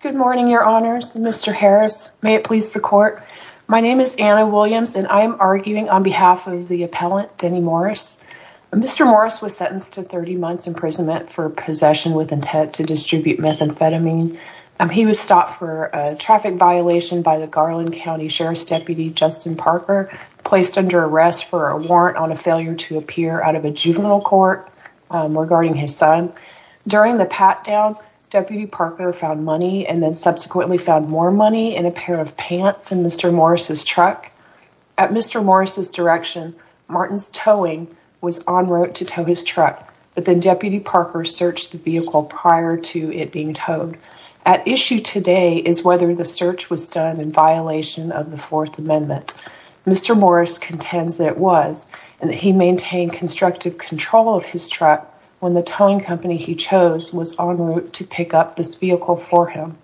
Good morning, your honors. Mr. Harris, may it please the court. My name is Anna Williams and I am arguing on behalf of the appellant, Dennie Morris. Mr. Morris was sentenced to 30 months imprisonment for possession with intent to distribute methamphetamine. He was stopped for a traffic violation by the Garland County Sheriff's Deputy, Justin Parker, placed under arrest for a warrant on a failure to appear out of a juvenile court regarding his son. During the pat-down, Deputy Parker found money and then subsequently found more money in a pair of pants in Mr. Morris' truck. At Mr. Morris' direction, Martin's towing was on route to tow his truck, but then Deputy Parker searched the vehicle prior to it being towed. At issue today is whether the search was done in violation of the Fourth Amendment. Mr. Morris contends that it was, and that he maintained constructive control of his truck when the towing company he chose was on route to pick up this vehicle for him.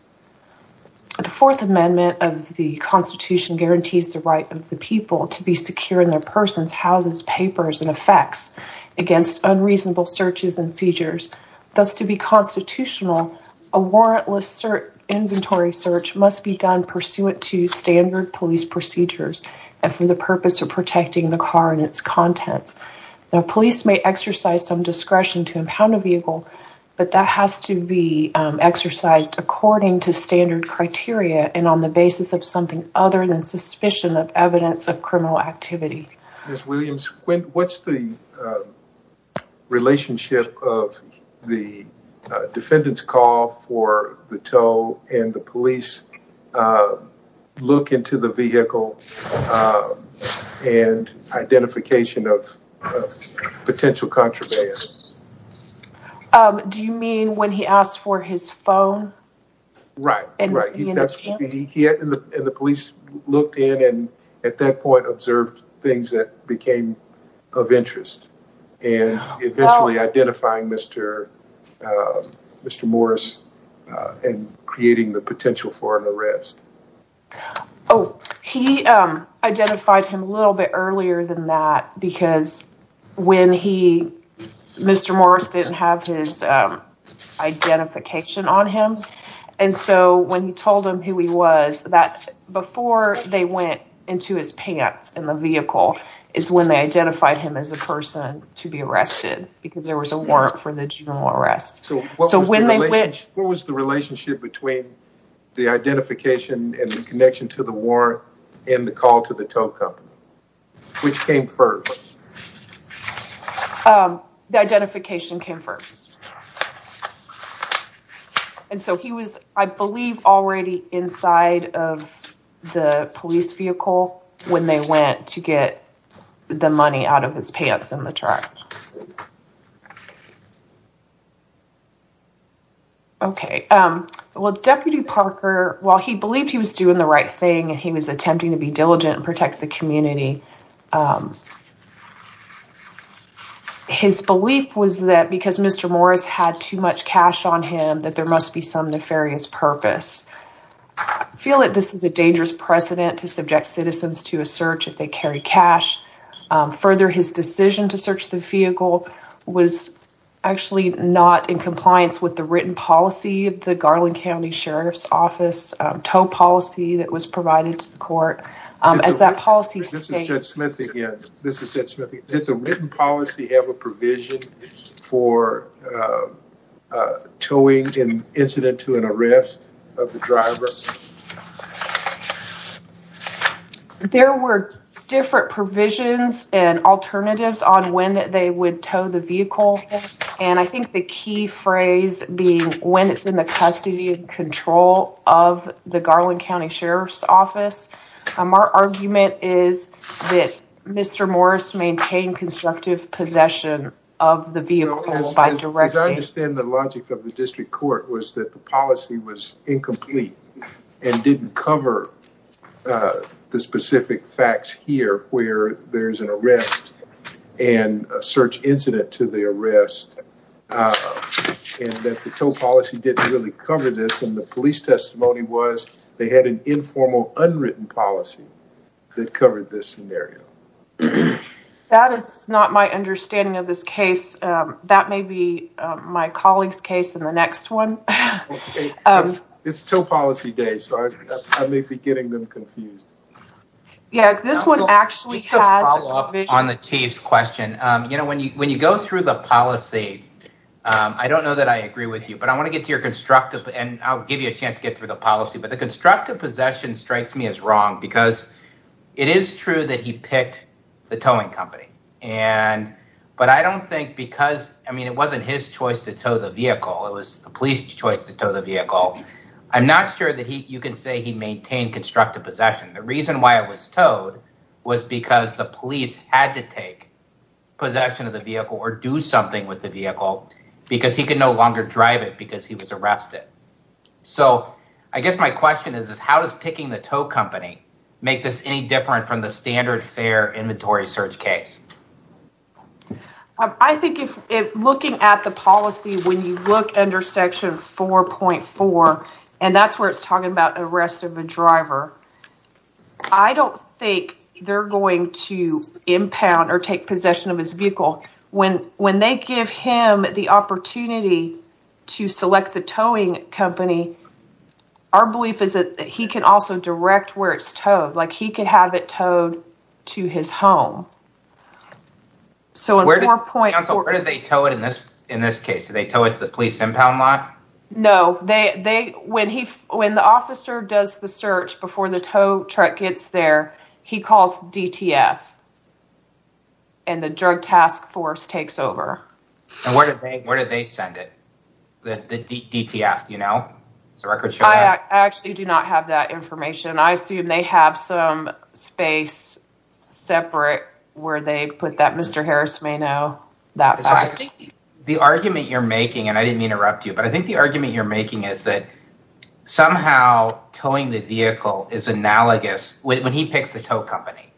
The Fourth Amendment of the Constitution guarantees the right of the people to be secure in their persons, houses, papers, and effects against unreasonable searches and seizures. Thus, to be constitutional, a warrantless inventory search must be done pursuant to standard police procedures and for the purpose of protecting the car and its contents. Now, police may exercise some discretion to impound a vehicle, but that has to be exercised according to standard criteria and on the basis of something other than suspicion of evidence of criminal activity. Ms. Williams, what's the relationship of the defendant's call for the tow and the police look into the vehicle and identification of potential contraband? Do you mean when he asked for his phone? Right, right. And the police looked in and at that point observed things that became of interest and eventually identifying Mr. Morris and creating the potential for an arrest. Oh, he identified him a little bit earlier than that because when he, Mr. Morris didn't have his identification on him, and so when he told them who he was, that before they went into his pants in the vehicle is when they identified him as a person to be arrested because there was a warrant for the general arrest. So what was the relationship between the identification and the connection to the warrant and the call to the tow company? Which came first? The identification came first. And so he was, I believe, already inside of the police vehicle when they went to get the money out of his pants in the truck. Okay. Well, Deputy Parker, while he believed he was doing the right thing and he was attempting to be diligent and protect the community, his belief was that because Mr. Morris had too much cash on him that there must be some nefarious purpose. I feel that this is a dangerous precedent to subject citizens to a search if they carry cash. Further, his decision to search the vehicle was actually not in compliance with the written policy of the Garland County Sheriff's Office tow policy that was provided to the court. This is Judge Smith again. This is Judge Smith again. Did the written policy have a provision for towing an incident to an arrest of the driver? There were different provisions and alternatives on when they would tow the vehicle. And I think the key phrase being when it's in the custody and control of the Garland County Sheriff's Office. Our argument is that Mr. Morris maintained constructive possession of the vehicle by directing. As I understand the logic of the district court was that the policy was incomplete. And didn't cover the specific facts here where there's an arrest and a search incident to the arrest. And that the tow policy didn't really cover this and the police testimony was they had an informal unwritten policy that covered this scenario. That is not my understanding of this case. That may be my colleague's case in the next one. It's tow policy day, so I may be getting them confused. Yeah, this one actually has. On the chief's question, you know, when you when you go through the policy, I don't know that I agree with you. But I want to get to your constructive and I'll give you a chance to get through the policy. But the constructive possession strikes me as wrong because it is true that he picked the towing company. But I don't think because I mean, it wasn't his choice to tow the vehicle. It was the police choice to tow the vehicle. I'm not sure that you can say he maintained constructive possession. The reason why it was towed was because the police had to take possession of the vehicle or do something with the vehicle. Because he could no longer drive it because he was arrested. So I guess my question is, how does picking the tow company make this any different from the standard fare inventory search case? I think if looking at the policy, when you look under Section 4.4, and that's where it's talking about arrest of a driver. I don't think they're going to impound or take possession of his vehicle. When they give him the opportunity to select the towing company, our belief is that he can also direct where it's towed. Like he could have it towed to his home. Where did they tow it in this case? Did they tow it to the police impound lot? No. When the officer does the search before the tow truck gets there, he calls DTF. And the drug task force takes over. And where did they send it? The DTF, do you know? I actually do not have that information. I assume they have some space separate where they put that. Mr. Harris may know. The argument you're making, and I didn't interrupt you, but I think the argument you're making is that somehow towing the vehicle is analogous. When he picks the tow company,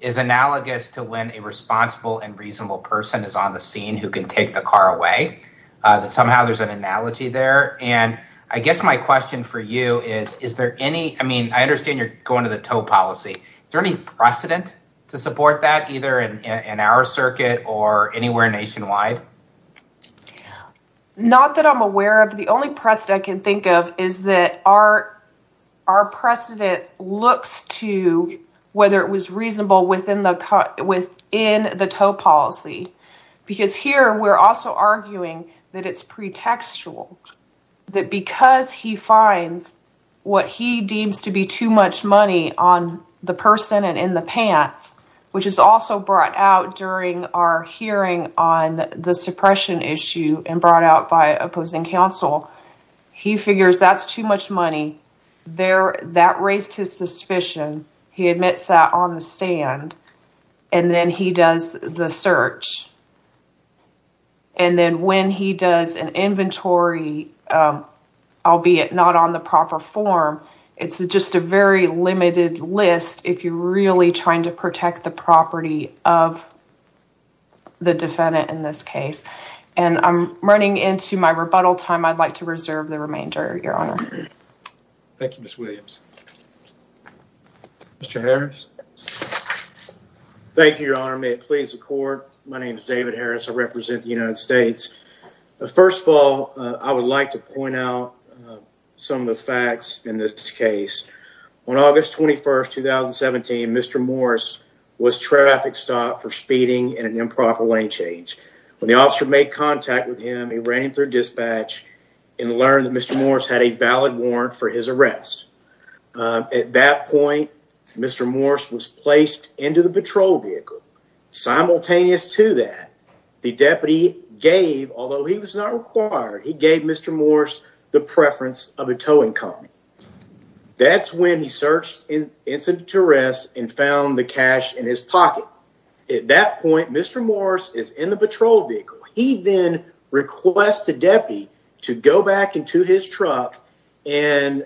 it's analogous to when a responsible and reasonable person is on the scene who can take the car away. That somehow there's an analogy there. And I guess my question for you is, is there any, I mean, I understand you're going to the tow policy. Is there any precedent to support that either in our circuit or anywhere nationwide? Not that I'm aware of. The only precedent I can think of is that our precedent looks to whether it was reasonable within the tow policy. Because here we're also arguing that it's pretextual, that because he finds what he deems to be too much money on the person and in the pants, which is also brought out during our hearing on the suppression issue and brought out by opposing counsel, he figures that's too much money. That raised his suspicion. He admits that on the stand. And then he does the search. And then when he does an inventory, albeit not on the proper form, it's just a very limited list if you're really trying to protect the property of the defendant in this case. And I'm running into my rebuttal time. I'd like to reserve the remainder, Your Honor. Thank you, Ms. Williams. Mr. Harris. Thank you, Your Honor. May it please the court. My name is David Harris. I represent the United States. First of all, I would like to point out some of the facts in this case. On August 21st, 2017, Mr. Morris was traffic stopped for speeding in an improper lane change. When the officer made contact with him, he ran him through dispatch and learned that Mr. Morris had a valid warrant for his arrest. At that point, Mr. Morris was placed into the patrol vehicle. Simultaneous to that, the deputy gave, although he was not required, he gave Mr. Morris the preference of a towing company. That's when he searched in incident to arrest and found the cash in his pocket. At that point, Mr. Morris is in the patrol vehicle. He then requests the deputy to go back into his truck and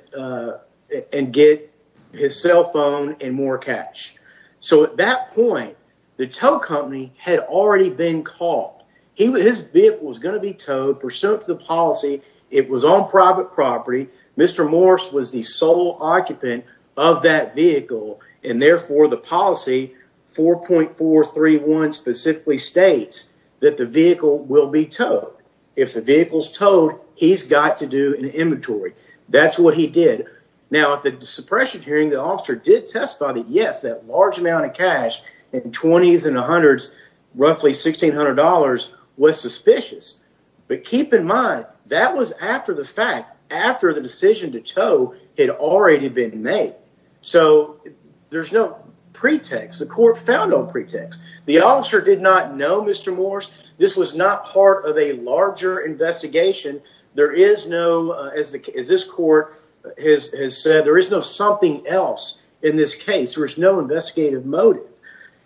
get his cell phone and more cash. So at that point, the tow company had already been called. His vehicle was going to be towed pursuant to the policy. It was on private property. Mr. Morris was the sole occupant of that vehicle, and therefore the policy 4.431 specifically states that the vehicle will be towed. If the vehicle is towed, he's got to do an inventory. That's what he did. Now, at the suppression hearing, the officer did testify that yes, that large amount of cash in 20s and 100s, roughly $1,600, was suspicious. But keep in mind that was after the fact, after the decision to tow had already been made. So there's no pretext. The court found no pretext. The officer did not know Mr. Morris. This was not part of a larger investigation. There is no, as this court has said, there is no something else in this case. There is no investigative motive.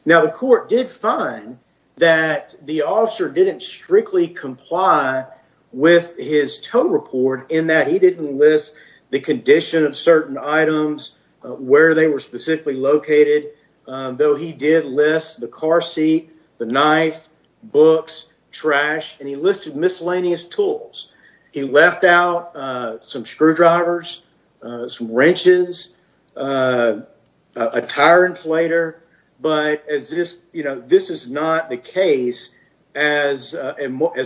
Now, the court did find that the officer didn't strictly comply with his tow report in that he didn't list the condition of certain items, where they were specifically located, though he did list the car seat, the knife, books, trash, and he listed miscellaneous tools. He left out some screwdrivers, some wrenches, a tire inflator. But this is not the case, as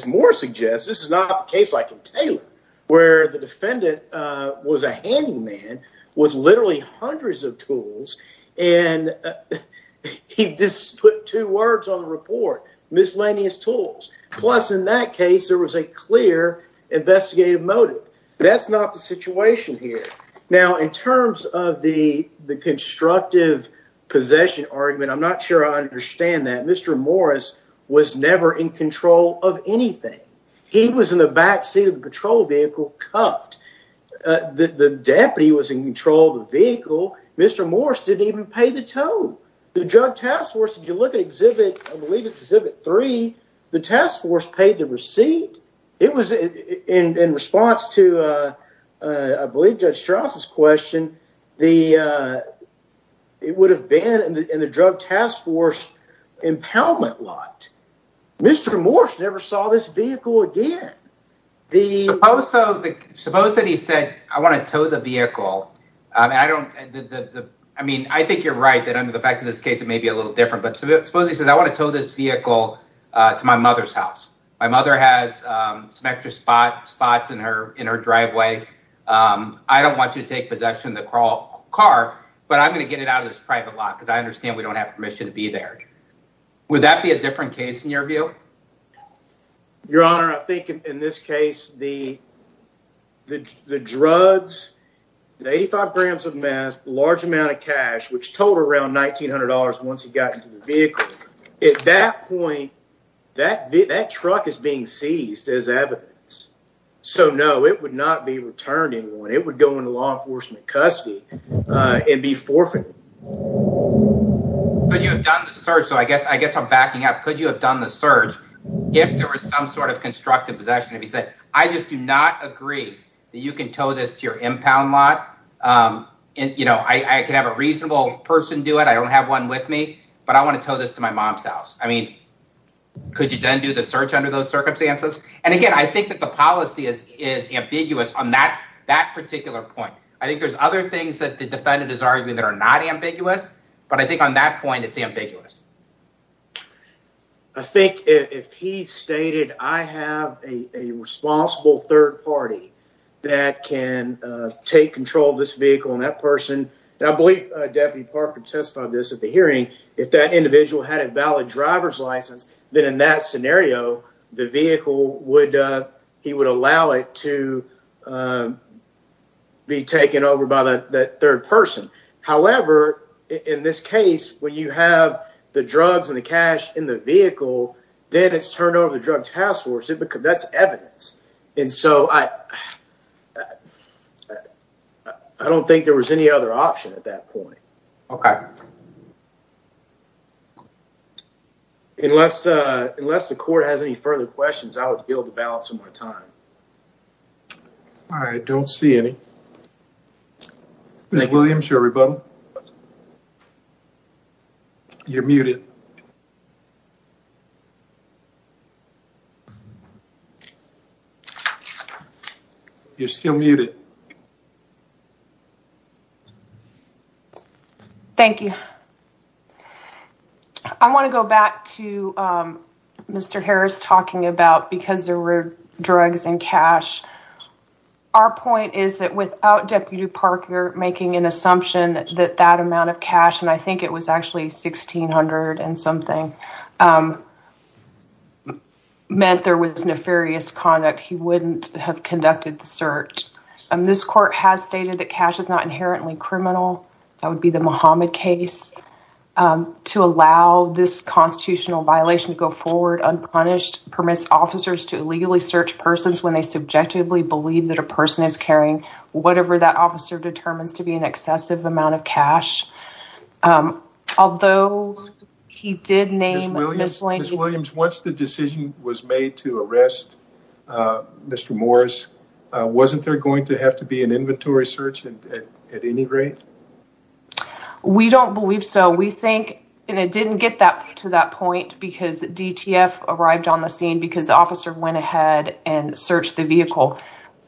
Morris suggests, this is not the case like in Taylor, where the defendant was a handyman with literally hundreds of tools and he just put two words on the report, miscellaneous tools. Plus, in that case, there was a clear investigative motive. That's not the situation here. Now, in terms of the constructive possession argument, I'm not sure I understand that. Mr. Morris was never in control of anything. He was in the backseat of the patrol vehicle, cuffed. The deputy was in control of the vehicle. Mr. Morris didn't even pay the tow. The drug task force, if you look at Exhibit, I believe it's Exhibit 3, the task force paid the receipt. It was in response to, I believe, Judge Strauss's question. It would have been in the drug task force impoundment lot. Mr. Morris never saw this vehicle again. Suppose that he said, I want to tow the vehicle. I mean, I think you're right that under the facts of this case, it may be a little different. But suppose he says, I want to tow this vehicle to my mother's house. My mother has some extra spots in her driveway. I don't want you to take possession of the car, but I'm going to get it out of this private lot because I understand we don't have permission to be there. Would that be a different case in your view? Your Honor, I think in this case, the drugs, the 85 grams of meth, large amount of cash, which totaled around $1,900 once he got into the vehicle. At that point, that truck is being seized as evidence. So, no, it would not be returned to anyone. It would go into law enforcement custody and be forfeited. Could you have done the search? So, I guess I'm backing up. Could you have done the search if there was some sort of constructive possession? If he said, I just do not agree that you can tow this to your impound lot. I can have a reasonable person do it. I don't have one with me, but I want to tow this to my mom's house. I mean, could you then do the search under those circumstances? And again, I think that the policy is ambiguous on that particular point. I think there's other things that the defendant is arguing that are not ambiguous, but I think on that point, it's ambiguous. I think if he stated, I have a responsible third party that can take control of this vehicle and that person, I believe Deputy Park can testify to this at the hearing, if that individual had a valid driver's license, then in that scenario, the vehicle would, he would allow it to be taken over by that third person. However, in this case, when you have the drugs and the cash in the vehicle, then it's turned over to the Drug Task Force. That's evidence. And so, I don't think there was any other option at that point. Okay. Unless the court has any further questions, I would yield the balance of my time. I don't see any. Ms. Williams, everybody. You're muted. You're still muted. Thank you. I want to go back to Mr. Harris talking about because there were drugs and cash. Our point is that without Deputy Parker making an assumption that that amount of cash, and I think it was actually $1,600 and something, meant there was nefarious conduct, he wouldn't have conducted the search. This court has stated that cash is not inherently criminal. That would be the Muhammad case. To allow this constitutional violation to go forward unpunished permits officers to illegally search persons when they subjectively believe that a person is carrying whatever that officer determines to be an excessive amount of cash. Although he did name Ms. Williams. Ms. Williams, once the decision was made to arrest Mr. Morris, wasn't there going to have to be an inventory search at any rate? We don't believe so. We think, and it didn't get to that point because DTF arrived on the scene because the officer went ahead and searched the vehicle.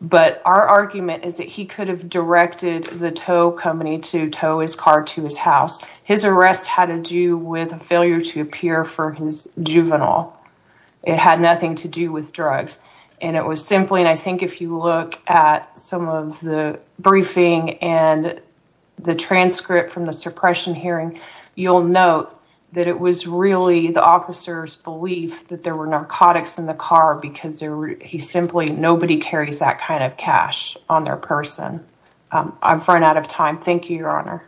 But our argument is that he could have directed the tow company to tow his car to his house. His arrest had to do with a failure to appear for his juvenile. It had nothing to do with drugs. And it was simply, and I think if you look at some of the briefing and the transcript from the suppression hearing, you'll note that it was really the officer's belief that there were narcotics in the car because he simply, nobody carries that kind of cash on their person. I've run out of time. Thank you, Your Honor.